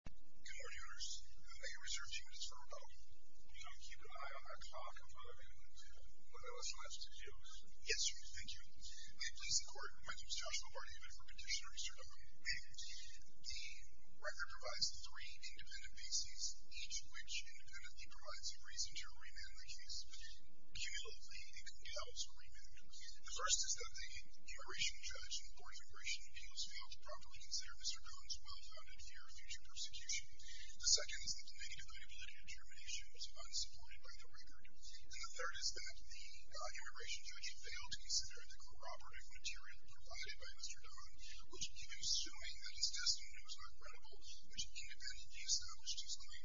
Good morning, owners. I reserve two minutes for rebuttal. Will you not keep an eye on our clock in front of you? We've got a lesson left to do. Yes, sir. Thank you. May it please the court, my name is Joshua Barney. I'm here for petitioner research. I'm a lawyer. The record provides three independent bases, each of which independently provides a reason to remand the case. Okay. Cumulatively, it entails a remand. Okay. The first is that the immigration judge in court immigration appeals failed to properly consider Mr. Dong's well-founded fear of future persecution. The second is that the negative liability determination was unsupported by the record. And the third is that the immigration judge failed to consider the corroborative material provided by Mr. Dong, which he is assuming that his testimony was not credible, which independently established his claim.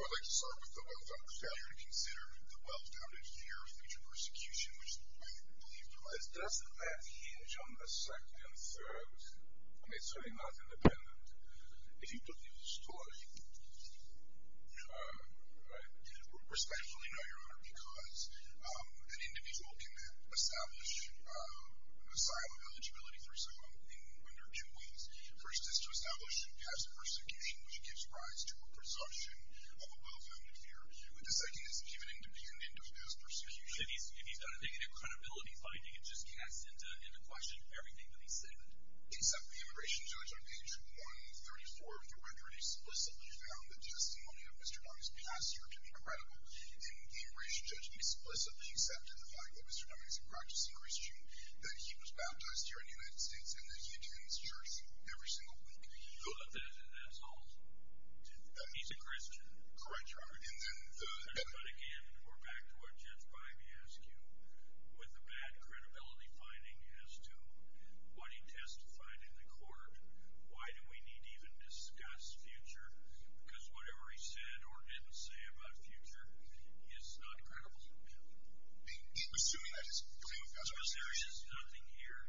Well, I'd like to start with the well-founded failure to consider the well-founded fear of future persecution, which the lawyer believed provides. Does that hinge on the second and third? I mean, it's certainly not independent. If you took the other story, respectfully, no, Your Honor, because an individual can establish asylum eligibility for someone when there are two ways. The first is to establish past persecution, which gives rise to a presumption of a well-founded fear. The second is even independent of past persecution. So if he's got to make an incredibility finding and just cast into question everything that he said? Except the immigration judge on page 134 of your record explicitly found the testimony of Mr. Dong's pastor to be credible. And the immigration judge explicitly accepted the fact that Mr. Dong is a practicing Christian, that he was baptized here in the United States, and that he attends church every single week. That's all? He's a Christian? Correct, Your Honor. But again, we're back to what Judge Bybee asked you with the bad credibility finding as to what he testified in the court. Why do we need to even discuss future? Because whatever he said or didn't say about future is not credible? He was assuming that his claim of past persecution. Because there's just nothing here.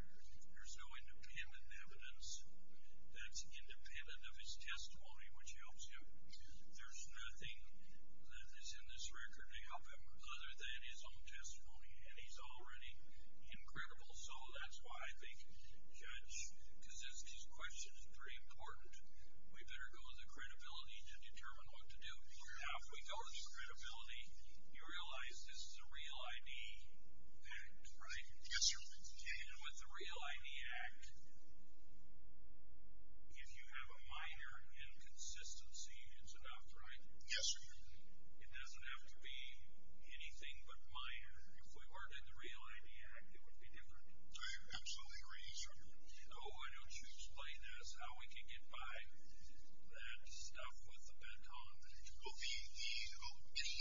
There's no independent evidence that's independent of his testimony, which helps you. There's nothing that is in this record to help him other than his own testimony, and he's already incredible. So that's why I think, Judge, because his question is very important. We better go with the credibility to determine what to do. Now, if we go with the credibility, you realize this is a Real ID Act, right? Yes, Your Honor. And with the Real ID Act, if you have a minor inconsistency, it's enough, right? Yes, Your Honor. It doesn't have to be anything but minor. If we weren't in the Real ID Act, it would be different. I absolutely agree, Your Honor. Oh, why don't you explain this, how we can get by that stuff with the baton? Well, any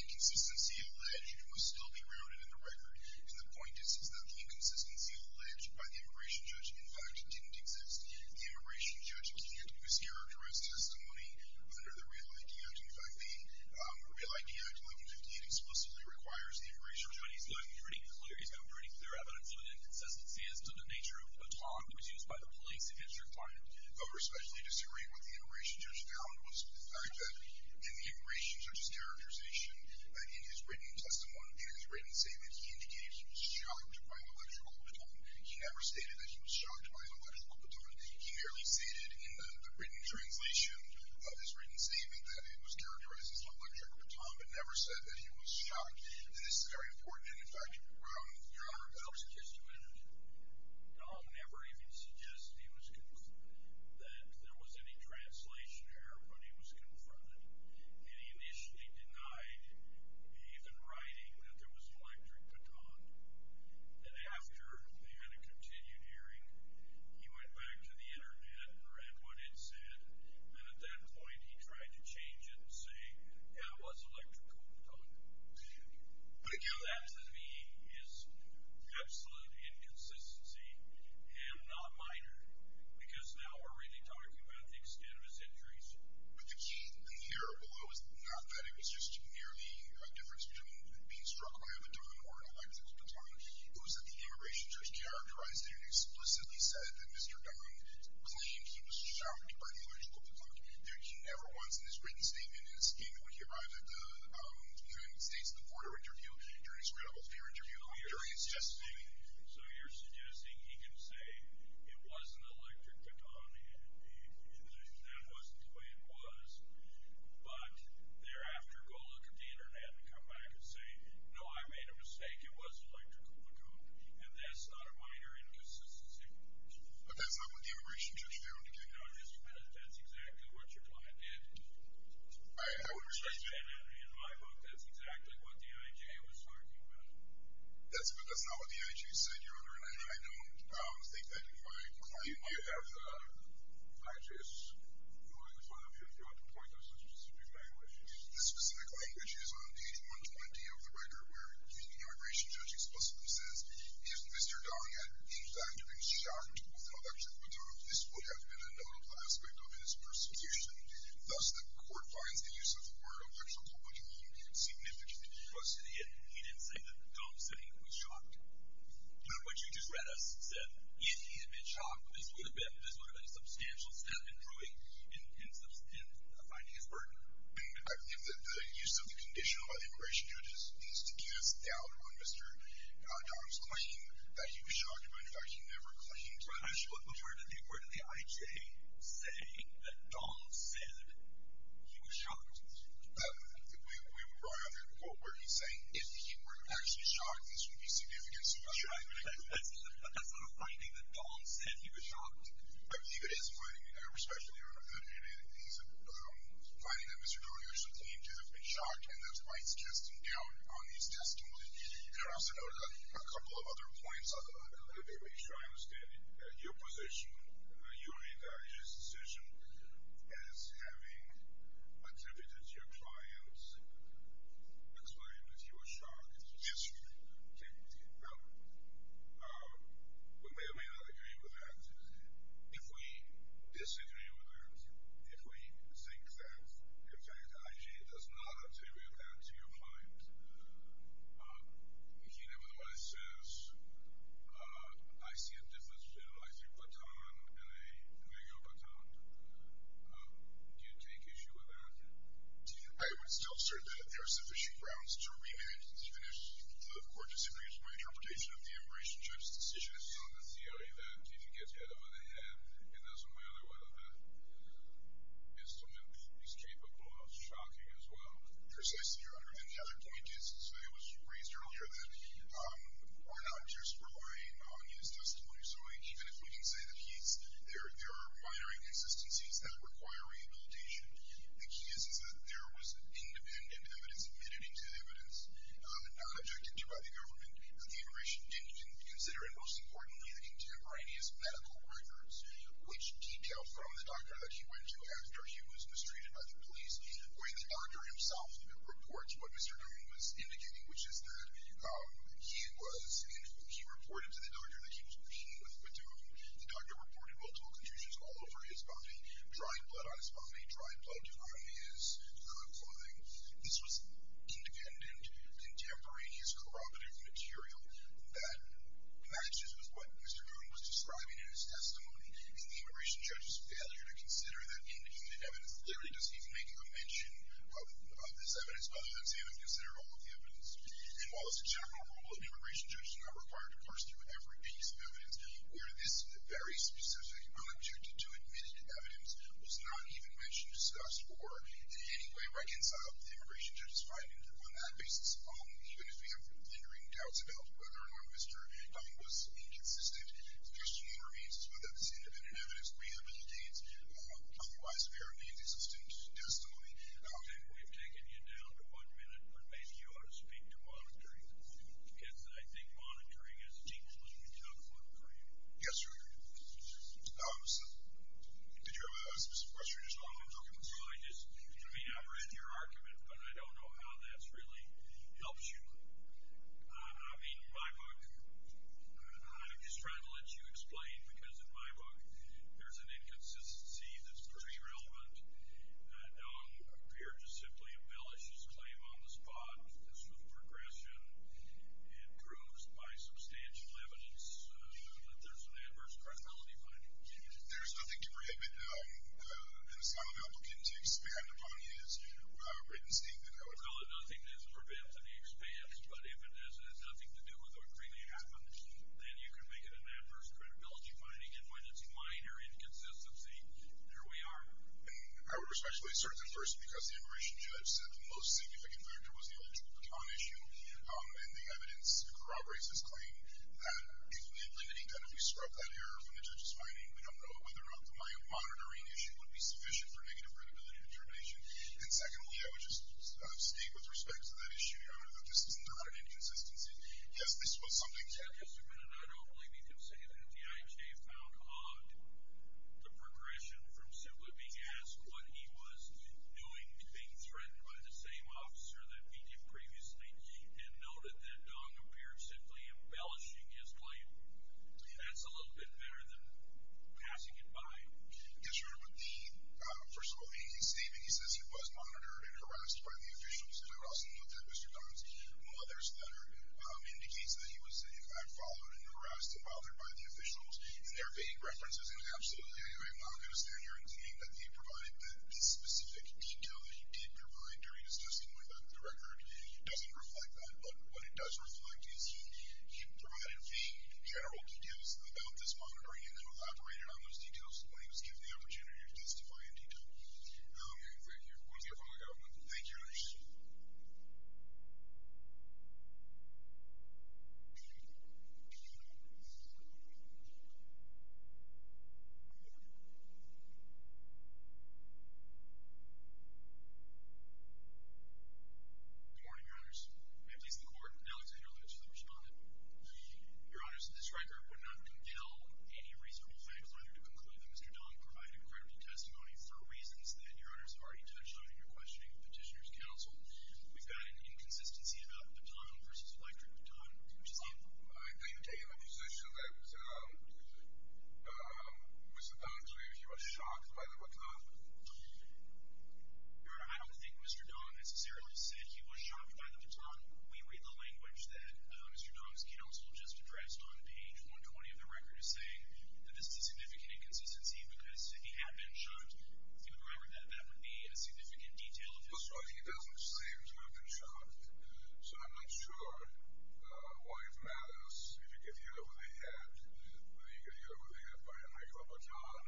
inconsistency alleged must still be grounded in the record. And the point is that the inconsistency alleged by the immigration judge, in fact, didn't exist. The immigration judge can't use characterized testimony under the Real ID Act. In fact, the Real ID Act, 1158, explicitly requires the immigration judge. But he's gotten pretty clear. He's gotten pretty clear evidence of the inconsistency as to the nature of the baton, and how it was used by the police in his requirement. I especially disagree with the immigration judge. The fact that in the immigration judge's characterization, in his written testimony, in his written statement, he indicated he was shocked by an electrical baton. He never stated that he was shocked by an electrical baton. He merely stated in the written translation of his written statement that it was characterized as an electrical baton, but never said that he was shocked. And, in fact, you're grounded, Your Honor. I'll never even suggest that there was any translation error when he was confronted. And he initially denied even writing that there was an electric baton. And after they had a continued hearing, he went back to the Internet and read what it said. And at that point, he tried to change it and say, yeah, it was an electrical baton. But, again, that, to me, is absolute inconsistency and not minor, because now we're really talking about the extent of his injuries. But the key here, although it was not that it was just merely a difference between being struck by a baton or an electrical baton, it was that the immigration judge characterized it and explicitly said that Mr. Dunn claimed he was shocked by the electrical baton. So you're suggesting he can say it was an electric baton and that wasn't the way it was, but thereafter go look at the Internet and come back and say, no, I made a mistake. It was an electrical baton. And that's not a minor inconsistency. But that's not what the immigration judge found, again. No, that's exactly what your client did. I understand that. In my book, that's exactly what D.I.J. was talking about. That's not what D.I.J. said, Your Honor, and I don't think that my client might have thought of it. Actually, if you want to point to a specific language. The specific language is on page 120 of the record where the immigration judge explicitly says, if Mr. Dunn had, in fact, been shocked with an electric baton, this would have been a notable aspect of his prosecution. Thus, the court finds the use of the word electrical baton even significant. He didn't say the dumb thing, he was shocked. What you just read us said if he had been shocked, this would have been a substantial step in proving and finding his burden. The use of the conditional by the immigration judge is to cast doubt on Mr. Dunn's claim that he was shocked. In fact, he never claimed that. Where did the I.J. say that Dunn said he was shocked? We brought out that quote where he's saying if he were actually shocked, this would be significant. That's not a finding that Dunn said he was shocked. I believe it is a finding, and I respectfully refer to it as a finding that Mr. Dunn usually claims to have been shocked, and that's why it's casting doubt on his testimony. You can also note a couple of other points on that. Let me make sure I understand it. Your position, your and I.J.'s decision as having attributed it to your clients, explained that he was shocked. Yes, sir. We may or may not agree with that. If we disagree with that, if we think that, in fact, I.J. does not attribute that to your clients, he nevertheless says, I see a difference between an icy baton and a legal baton. Do you take issue with that? I would still assert that there are sufficient grounds to remand him, even if the court disagrees with my interpretation of the immigration judge's decision. It's not the theory that if he gets hit over the head, it doesn't matter what instrument he's capable of shocking as well. Precisely, Your Honor. And the other point is, as it was raised earlier, that we're not just relying on his testimony. So even if we can say that there are minor inconsistencies that require rehabilitation, the key is that there was independent evidence admitted into evidence not objected to by the government. Immigration didn't consider, and most importantly, the contemporaneous medical records, which detail from the doctor that he went to after he was mistreated by the police, where the doctor himself reports what Mr. Newman was indicating, which is that he was, and he reported to the doctor that he was competing with Mr. Newman. The doctor reported multiple contusions all over his body, dry blood on his body, dry blood on his clothing. This was independent, contemporaneous corroborative material that matches with what Mr. Newman was describing in his testimony. And the immigration judge's failure to consider that independent evidence, literally does not even make a mention of this evidence other than saying they've considered all of the evidence. And while a successful approval of the immigration judge is not required to parse through every piece of evidence, where this very specific relative to admitted evidence was not even mentioned, discussed, or in any way reconciled with the immigration judge's finding, on that basis, even if we have lingering doubts about whether or not Mr. Dunn was inconsistent, the question remains as to whether this independent evidence rehabilitates. Otherwise, there remains insistent testimony. And we've taken you down to one minute, but maybe you ought to speak to monitoring, because I think monitoring is deeply, deeply tough work for you. Yes, sir. Did you have a specific question? No, I just, I mean, I've read your argument, but I don't know how that really helps you. I mean, in my book, I'm just trying to let you explain, because in my book, there's an inconsistency that's pretty relevant. Mr. Dunn appeared to simply embellish his claim on the spot as to the progression and proves by substantial evidence that there's an adverse credibility finding. There's nothing to prohibit an Islamic applicant to expand upon his written statement. Well, nothing is forbidden to be expanded, but if it has nothing to do with what really happened, then you can make it an adverse credibility finding. And when it's minor inconsistency, there we are. And I would respectfully assert that, first, because the immigration judge said the most significant factor was the electrical baton issue, and the evidence corroborates his claim that if we eliminate Dunn, if we scrub that error from the judge's finding, we don't know whether or not the monitoring issue would be sufficient for negative credibility determination. And secondly, I would just state with respect to that issue, Your Honor, that this is not an inconsistency. Yes, this was something that— The progression from simply being asked what he was doing, being threatened by the same officer that beat him previously, and noted that Dunn appeared simply embellishing his claim, that's a little bit better than passing it by. Yes, Your Honor. With the, first of all, hanging statement, he says he was monitored and harassed by the officials. I would also note that Mr. Dunn's mother's letter indicates that he was, in fact, followed and harassed and bothered by the officials. And there are vague references. And absolutely, I'm not going to stand here and claim that he provided that specific detail that he did provide during his testimony, but the record doesn't reflect that. But what it does reflect is he provided vague, general details about this monitoring and then elaborated on those details when he was given the opportunity to testify in detail. Okay, thank you. We'll see if I can get one. Thank you, Your Honor. Good morning. Good morning, Your Honors. May it please the Court. Alexander Lynch, the respondent. Your Honors, this record would not compel any reasonable fact finder to conclude that Mr. Dunn provided credible testimony for reasons that Your Honors already touched on in your questioning of Petitioner's Counsel. We've got an inconsistency about Baton v. Electric Baton. I think you're in a position that Mr. Dunn claims he was shocked by the Baton. Your Honor, I don't think Mr. Dunn necessarily said he was shocked by the Baton. We read the language that Mr. Dunn's counsel just addressed on page 120 of the record as saying that this is a significant inconsistency because if he had been shocked through the record, that that would be a significant detail of his testimony. That's right. He doesn't seem to have been shocked. So I'm not sure why it matters if you get hit over the head, whether you get hit over the head by a micro baton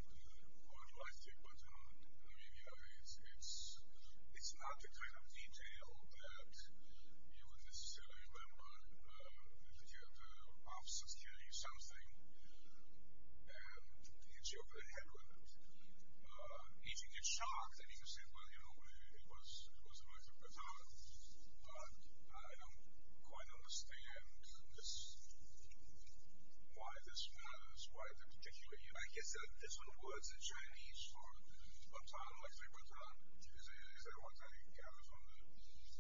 or an electric baton. I mean, you know, it's not the kind of detail that you would necessarily remember. The officers carry something and hit you over the head with it. If you get shocked and you say, well, you know, it was a micro baton, I'm not shocked, but I don't quite understand why this matters, why the particular use. Like he said, this one was in Chinese for the baton, electric baton. Is there one that he gathered from the record?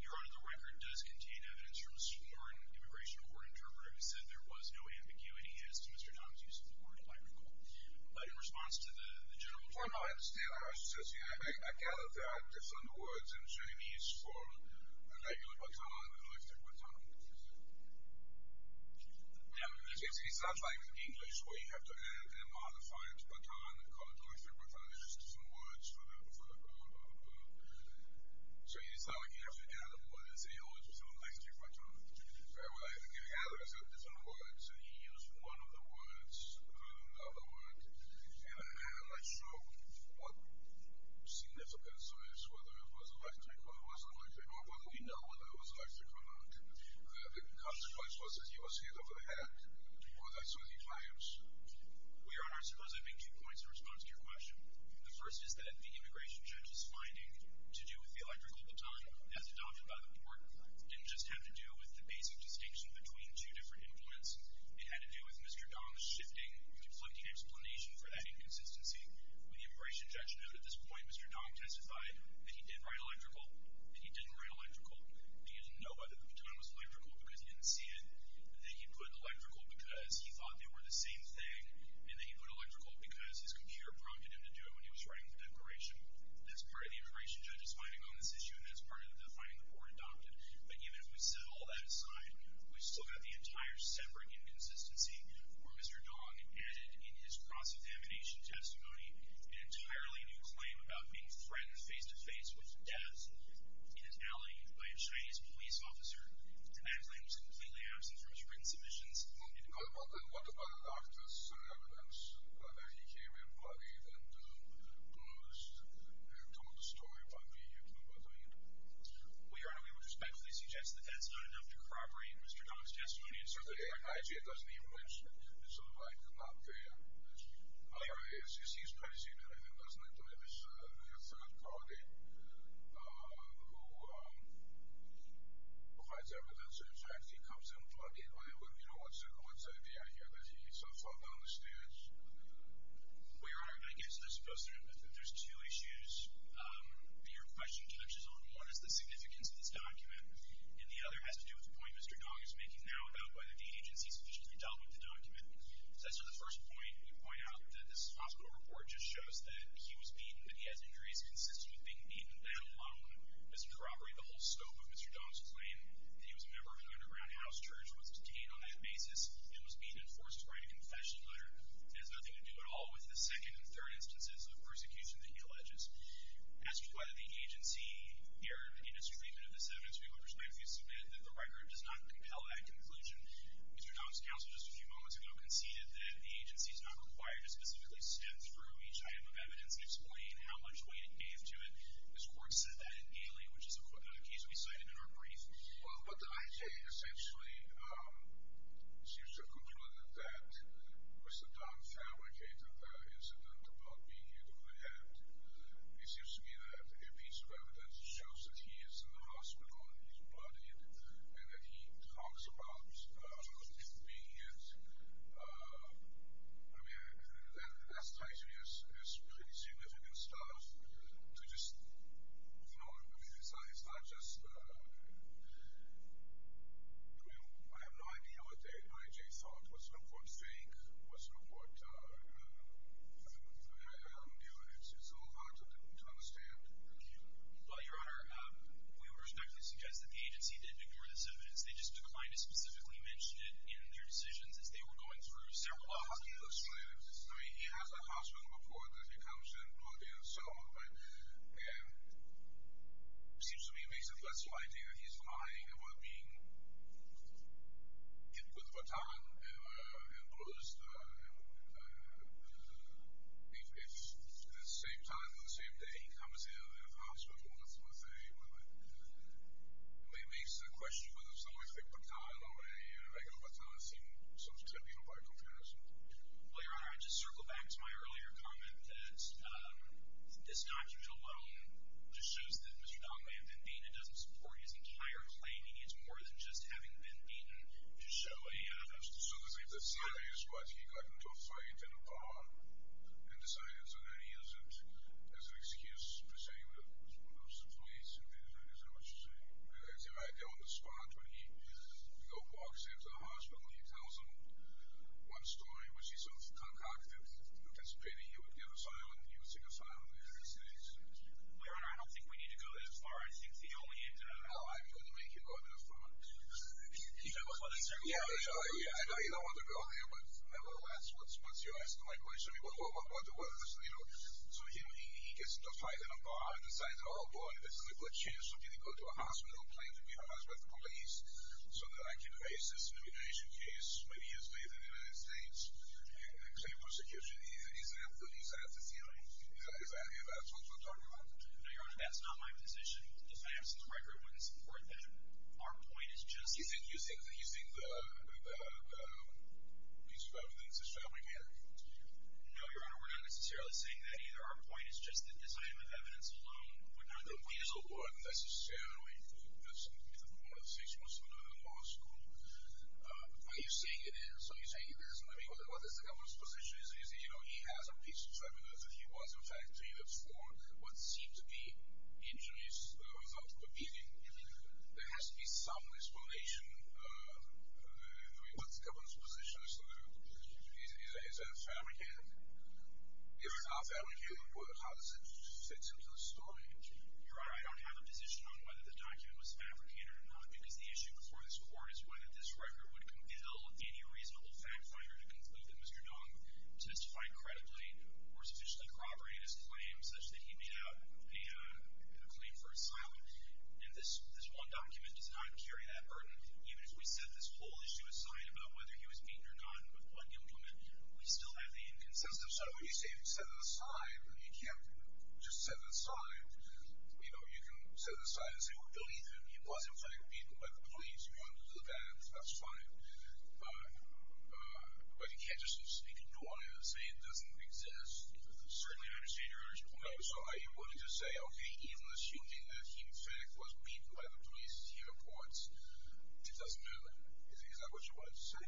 Your Honor, the record does contain evidence from a sworn immigration court interpreter who said there was no ambiguity as to Mr. Dunn's use of the word micro. But in response to the general judge. Well, no, I understand. I gather there are different words in Chinese for a regular baton, an electric baton. It sounds like in English where you have to add a modified baton and call it an electric baton. It's just different words for the verb. So it's not like you have to add a word and say, oh, it's an electric baton. Well, I gather there are different words, and he used one of the words, and I'm not sure what significance there is, whether it was electric or it wasn't electric, or whether we know whether it was electric or not. The consequence was that he was hit over the head, or that's what he claims. Well, Your Honor, I suppose I'd make two points in response to your question. The first is that the immigration judge's finding to do with the electric baton as adopted by the court didn't just have to do with the basic distinction between two different implements. It had to do with Mr. Dong's shifting, conflicting explanation for that inconsistency. What the immigration judge noted at this point, Mr. Dong testified that he did write electrical, that he didn't write electrical, that he didn't know whether the baton was electrical because he didn't see it, that he put electrical because he thought they were the same thing, and that he put electrical because his computer prompted him to do it when he was writing the declaration. That's part of the immigration judge's finding on this issue, and that's part of the finding the court adopted. But even if we set all that aside, we still have the entire separate inconsistency where Mr. Dong added in his cross-examination testimony an entirely new claim about being threatened face-to-face with death in an alley by a Chinese police officer, and that claim was completely absent from his written submissions. What about the doctor's evidence that he came in bloodied and bruised and told a story about being hit by a baton? Well, Your Honor, we would respectfully suggest that that's not enough to corroborate Mr. Dong's testimony. It's certainly not. It doesn't even match. It's sort of like not fair. He's predestined everything, doesn't he? There's a third party who provides evidence that in fact he comes in bloodied. What's the idea here? Does he fall down the stairs? Well, Your Honor, I guess there's two issues. Your question touches on one is the significance of this document, and the other has to do with the point Mr. Dong is making now about whether the agency sufficiently dealt with the document. So as to the first point, you point out that this hospital report just shows that he was beaten, that he has injuries consistent with being beaten. That alone doesn't corroborate the whole scope of Mr. Dong's claim, that he was a member of an underground house church, was detained on that basis, and was beaten and forced to write a confession letter. That has nothing to do at all with the second and third instances of persecution that he alleges. As to why the agency erred in its treatment of this evidence, we would respectfully submit that the record does not compel that conclusion. Mr. Dong's counsel just a few moments ago conceded that the agency is not required to specifically step through each item of evidence and explain how much weight it gave to it. This court said that in Galey, which is a case we cited in our brief. Well, but the agency essentially seems to have concluded that Mr. Dong fabricated the incident about being hit on the head. It seems to me that a piece of evidence shows that he is in the hospital and he's bloodied, and that he talks about being hit. I mean, that's pretty significant stuff to just throw it beneath the sun. It's not just, I mean, I have no idea what the I.J. thought. What's the court's take? What's the court's view? It's a little hard to understand. Well, Your Honor, we would respectfully suggest that the agency did ignore this evidence. They just declined to specifically mention it in their decisions as they were going through several options. I mean, he has a hospital before this. He comes in bloody and so on. And it seems to me it makes it less of an idea that he's lying about being hit with a baton and bruised. At the same time, on the same day, he comes in to the hospital with a weapon. It makes the question whether someone was hit with a baton or a regular baton seem so trivial by comparison. Well, Your Honor, I just circle back to my earlier comment that this document alone just shows that Mr. Donnelly may have been beaten. It doesn't support his entire claim. He needs more than just having been beaten to show a— So the theory is that he got into a fight in a bar and decided that he isn't, as an excuse, pursuing the police. Is that what you're saying? I see right there on the spot when he walks into the hospital, he tells them one story, which he sort of concocted, anticipating you would give a file and he would take a file in the United States. Well, Your Honor, I don't think we need to go that far. I think the only inter— Oh, I'm going to make you go to the front. That's what I'm saying. Yeah, I know you don't want to go there, but nevertheless, what's your answer to my question? I mean, what's the worst, you know? So he gets into a fight in a bar and decides, oh boy, this is a good chance for me to go to a hospital, plain to be honest, with the police, so that I can raise this immigration case, when he has made it in the United States, and claim persecution. Is that the theory? If that's what you're talking about? No, Your Honor, that's not my position. The FAMC's record wouldn't support that. Our point is just— You think he's using the piece of evidence to stab my man? No, Your Honor, we're not necessarily saying that. Either our point is just that this item of evidence alone would not— No, but we as a court, necessarily, as one of the six Muslim men in the law school, are you saying it is? Are you saying it isn't? I mean, what is the governor's position? You know, he has a piece of evidence that he was, in fact, treated for what seemed to be injuries, the result of a beating. There has to be some explanation. I mean, what's the governor's position? Is that fabricated? If it's not fabricated, how does it fit into the story? Your Honor, I don't have a position on whether the document was fabricated or not, because the issue before this court is whether this record would compel any reasonable fact finder to conclude that Mr. Dong testified credibly or sufficiently corroborated his claims such that he made out a claim for asylum. And this one document does not carry that burden. Even if we set this whole issue aside about whether he was beaten or not, with one implement, we still have the inconsistency. So you say you set it aside, but you can't just set it aside. You know, you can set it aside and say, well, believe him, he was, in fact, beaten by the police. You want to do that, that's fine. But you can't just stick a door in and say it doesn't exist. Certainly I understand Your Honor's point. So are you willing to say, okay, even assuming that he, in fact, was beaten by the police, he reports, it doesn't matter? Is that what you wanted to say?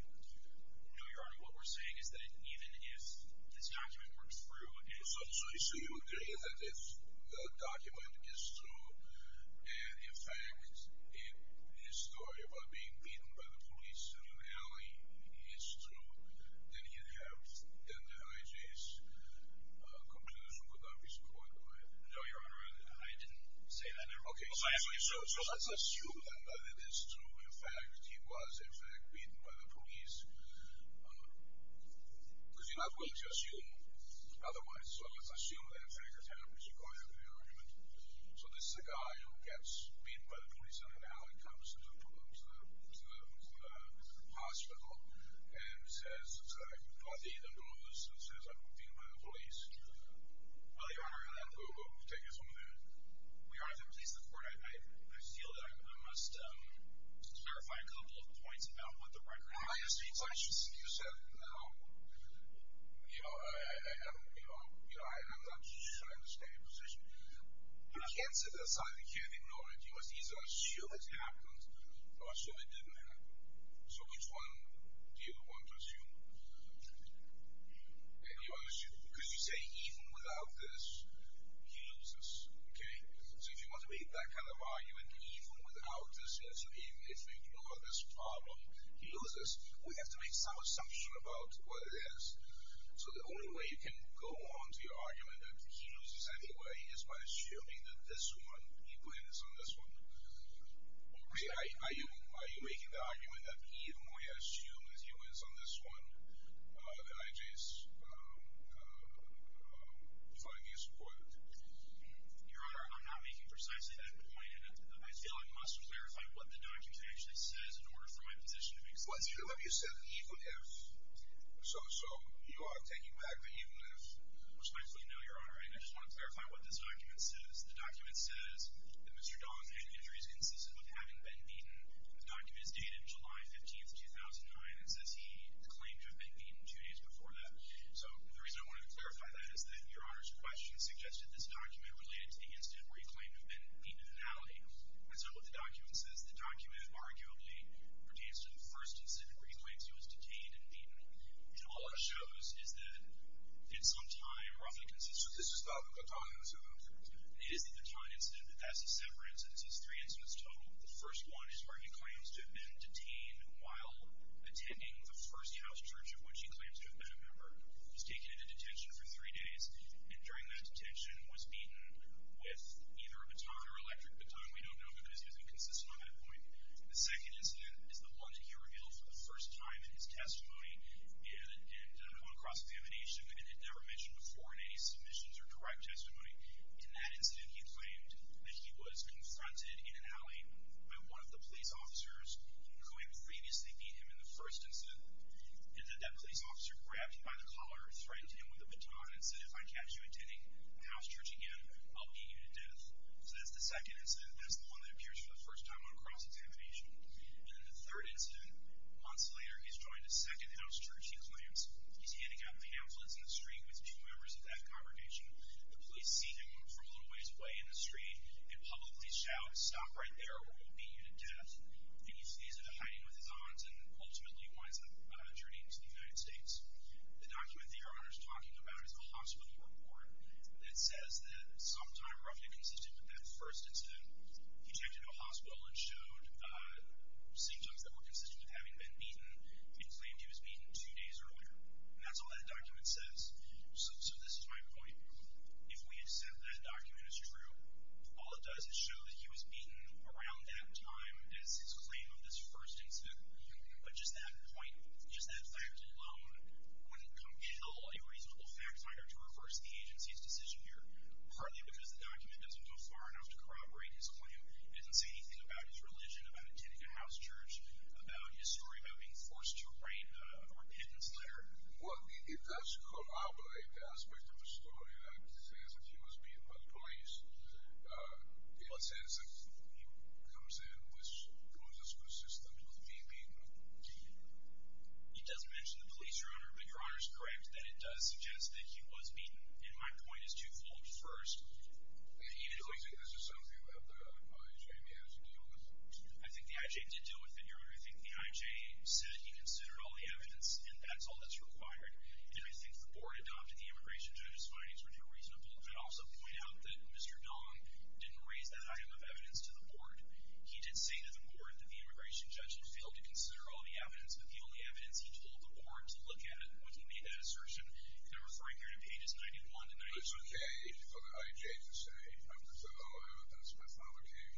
No, Your Honor. What we're saying is that even if this document works through So you agree that this document is true and, in fact, his story about being beaten by the police in an alley is true, then the IJ's conclusion would not be supported by it. No, Your Honor, I didn't say that. Okay, so let's assume that it is true. In fact, he was, in fact, beaten by the police. Because you're not willing to assume otherwise. So let's assume that, in fact, it happens. So this is a guy who gets beaten by the police in an alley, comes to the hospital, and says, I can't believe I'm doing this, and says, I've been beaten by the police. Well, Your Honor, we'll take it from there. Well, Your Honor, to please the Court, I feel that I must clarify a couple of points about what the record says. In my experience, I should say to you, sir, you know, I'm not sure I understand your position. You can't sit there and say, you can't ignore it. You must either assume it happened or assume it didn't happen. So which one do you want to assume? You want to assume, because you say, even without this, he loses. Okay? So if you want to make that kind of argument, even without this, even if we ignore this problem, he loses, we have to make some assumption about what it is. So the only way you can go on to your argument that he loses anyway is by assuming that this one, he wins on this one. Are you making the argument that the more you assume that he wins on this one, the NIJ is defying you as a court? Your Honor, I'm not making precisely that point. And I feel I must clarify what the document actually says in order for my position to make sense. What do you mean you said even if? So you are taking back the even if? Which I fully know, Your Honor, and I just want to clarify what this document says. The document says that Mr. Dawson had injuries consistent with having been beaten. The document is dated July 15, 2009, and says he claimed to have been beaten two days before that. So the reason I wanted to clarify that is that Your Honor's question suggested this document related to the incident where he claimed to have been beaten in an alley. That's not what the document says. The document arguably pertains to the first incident where he claims he was detained and beaten. And all it shows is that in some time, roughly consistent. So this is not the Bataan incident? It is the Bataan incident, but that's a separate incident. This is three incidents total. The first one is where he claims to have been detained while attending the First House church of which he claims to have been a member. He was taken into detention for three days, and during that detention was beaten with either a baton or electric baton. We don't know because he's inconsistent on that point. The second incident is the one that he revealed for the first time in his testimony and upon cross-examination and had never mentioned before in any submissions or direct testimony. In that incident, he claimed that he was confronted in an alley by one of the police officers who had previously beat him in the first incident and that that police officer grabbed him by the collar, threatened him with a baton, and said, if I catch you attending the house church again, I'll beat you to death. So that's the second incident, and that's the one that appears for the first time on cross-examination. And in the third incident, months later, he's joined a second house church, he claims. He's handing out pamphlets in the street with two members of that congregation. The police see him from a little ways away in the street and publicly shout, stop right there or we'll beat you to death. And he sees it, hiding with his arms, and ultimately winds up turning to the United States. The document that Your Honor is talking about is a hospital report that says that sometime roughly consistent with that first incident, he checked into a hospital and showed symptoms that were consistent with having been beaten and claimed he was beaten two days earlier. And that's all that document says. So this is my point. If we accept that document is true, all it does is show that he was beaten around that time as his claim of this first incident. But just that point, just that fact alone, wouldn't compel a reasonable fact finder to reverse the agency's decision here, partly because the document doesn't go far enough to corroborate his claim. It doesn't say anything about his religion, about attending a house church, about his story about being forced to write a repentance letter. Well, it does corroborate the aspect of the story that says that he was beaten by the police. It says that he comes in with symptoms of being beaten. It doesn't mention the police, Your Honor, but Your Honor is correct that it does suggest that he was beaten. And my point is twofold. First, do you think this is something that the I.J. managed to deal with? I think the I.J. did deal with it, Your Honor. I think the I.J. said he considered all the evidence, and that's all that's required. And I think the board adopted the immigration judge's findings were too reasonable. I'd also point out that Mr. Dong didn't raise that item of evidence to the board. He did say to the board that the immigration judge had failed to consider all the evidence, but the only evidence he told the board to look at when he made that assertion, and I'm referring here to pages 91 to 92. But it's okay for the I.J. to say, I've considered all the evidence, my father came,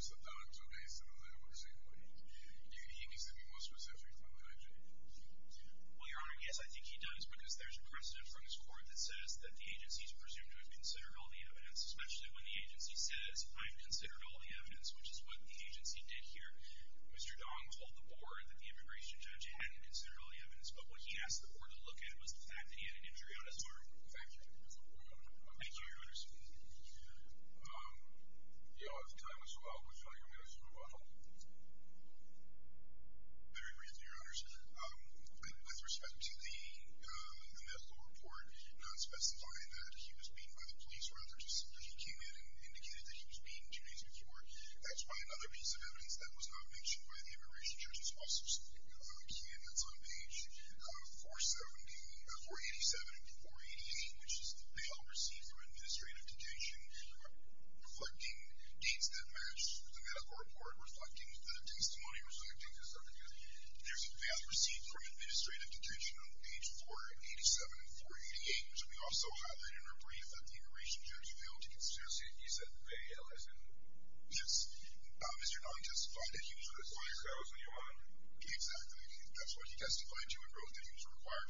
Mr. Dong's okay, so then that works equally. He needs to be more specific than the I.J. Well, Your Honor, yes, I think he does, because there's a precedent from his court that says that the agency is presumed to have considered all the evidence, especially when the agency says, I've considered all the evidence, which is what the agency did here. Mr. Dong told the board that the immigration judge hadn't considered all the evidence, but what he asked the board to look at was the fact that he had an injury on his arm. Thank you, Your Honor. Thank you, Your Honor. Thank you, Your Honor. You know, at the time as well, we felt like we had to move on. I agree with you, Your Honor. With respect to the medical report, not specifying that he was beaten by the police, rather just that he came in and indicated that he was beaten two days before, that's by another piece of evidence that was not mentioned by the immigration judge. It's also a key in that's on page 487 and 488, which is the bail received through administrative detention, reflecting dates that match the medical report, reflecting the testimony, there's a bail received from administrative detention on page 487 and 488, which we also highlight in our brief that the immigration judge failed to consider. You said bail, is it? Yes. Mr. Dong testified that he was required to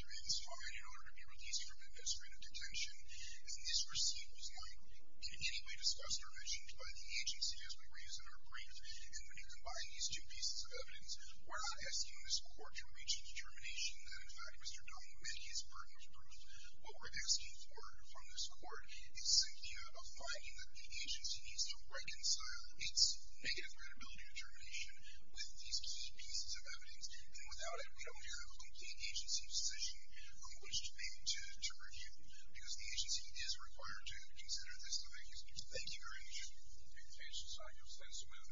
make this comment in order to be released from administrative detention, and this receipt was not in any way discussed or mentioned by the agency as we raised in our brief, and when you combine these two pieces of evidence, we're not asking this court to reach a determination that in fact Mr. Dong met his burden of proof. What we're asking for from this court is simply a finding that the agency needs to reconcile its negative credibility determination with these two pieces of evidence, and without it we don't have a complete agency decision on which thing to review, because the agency is required to consider this thing. Thank you very much. Thank you.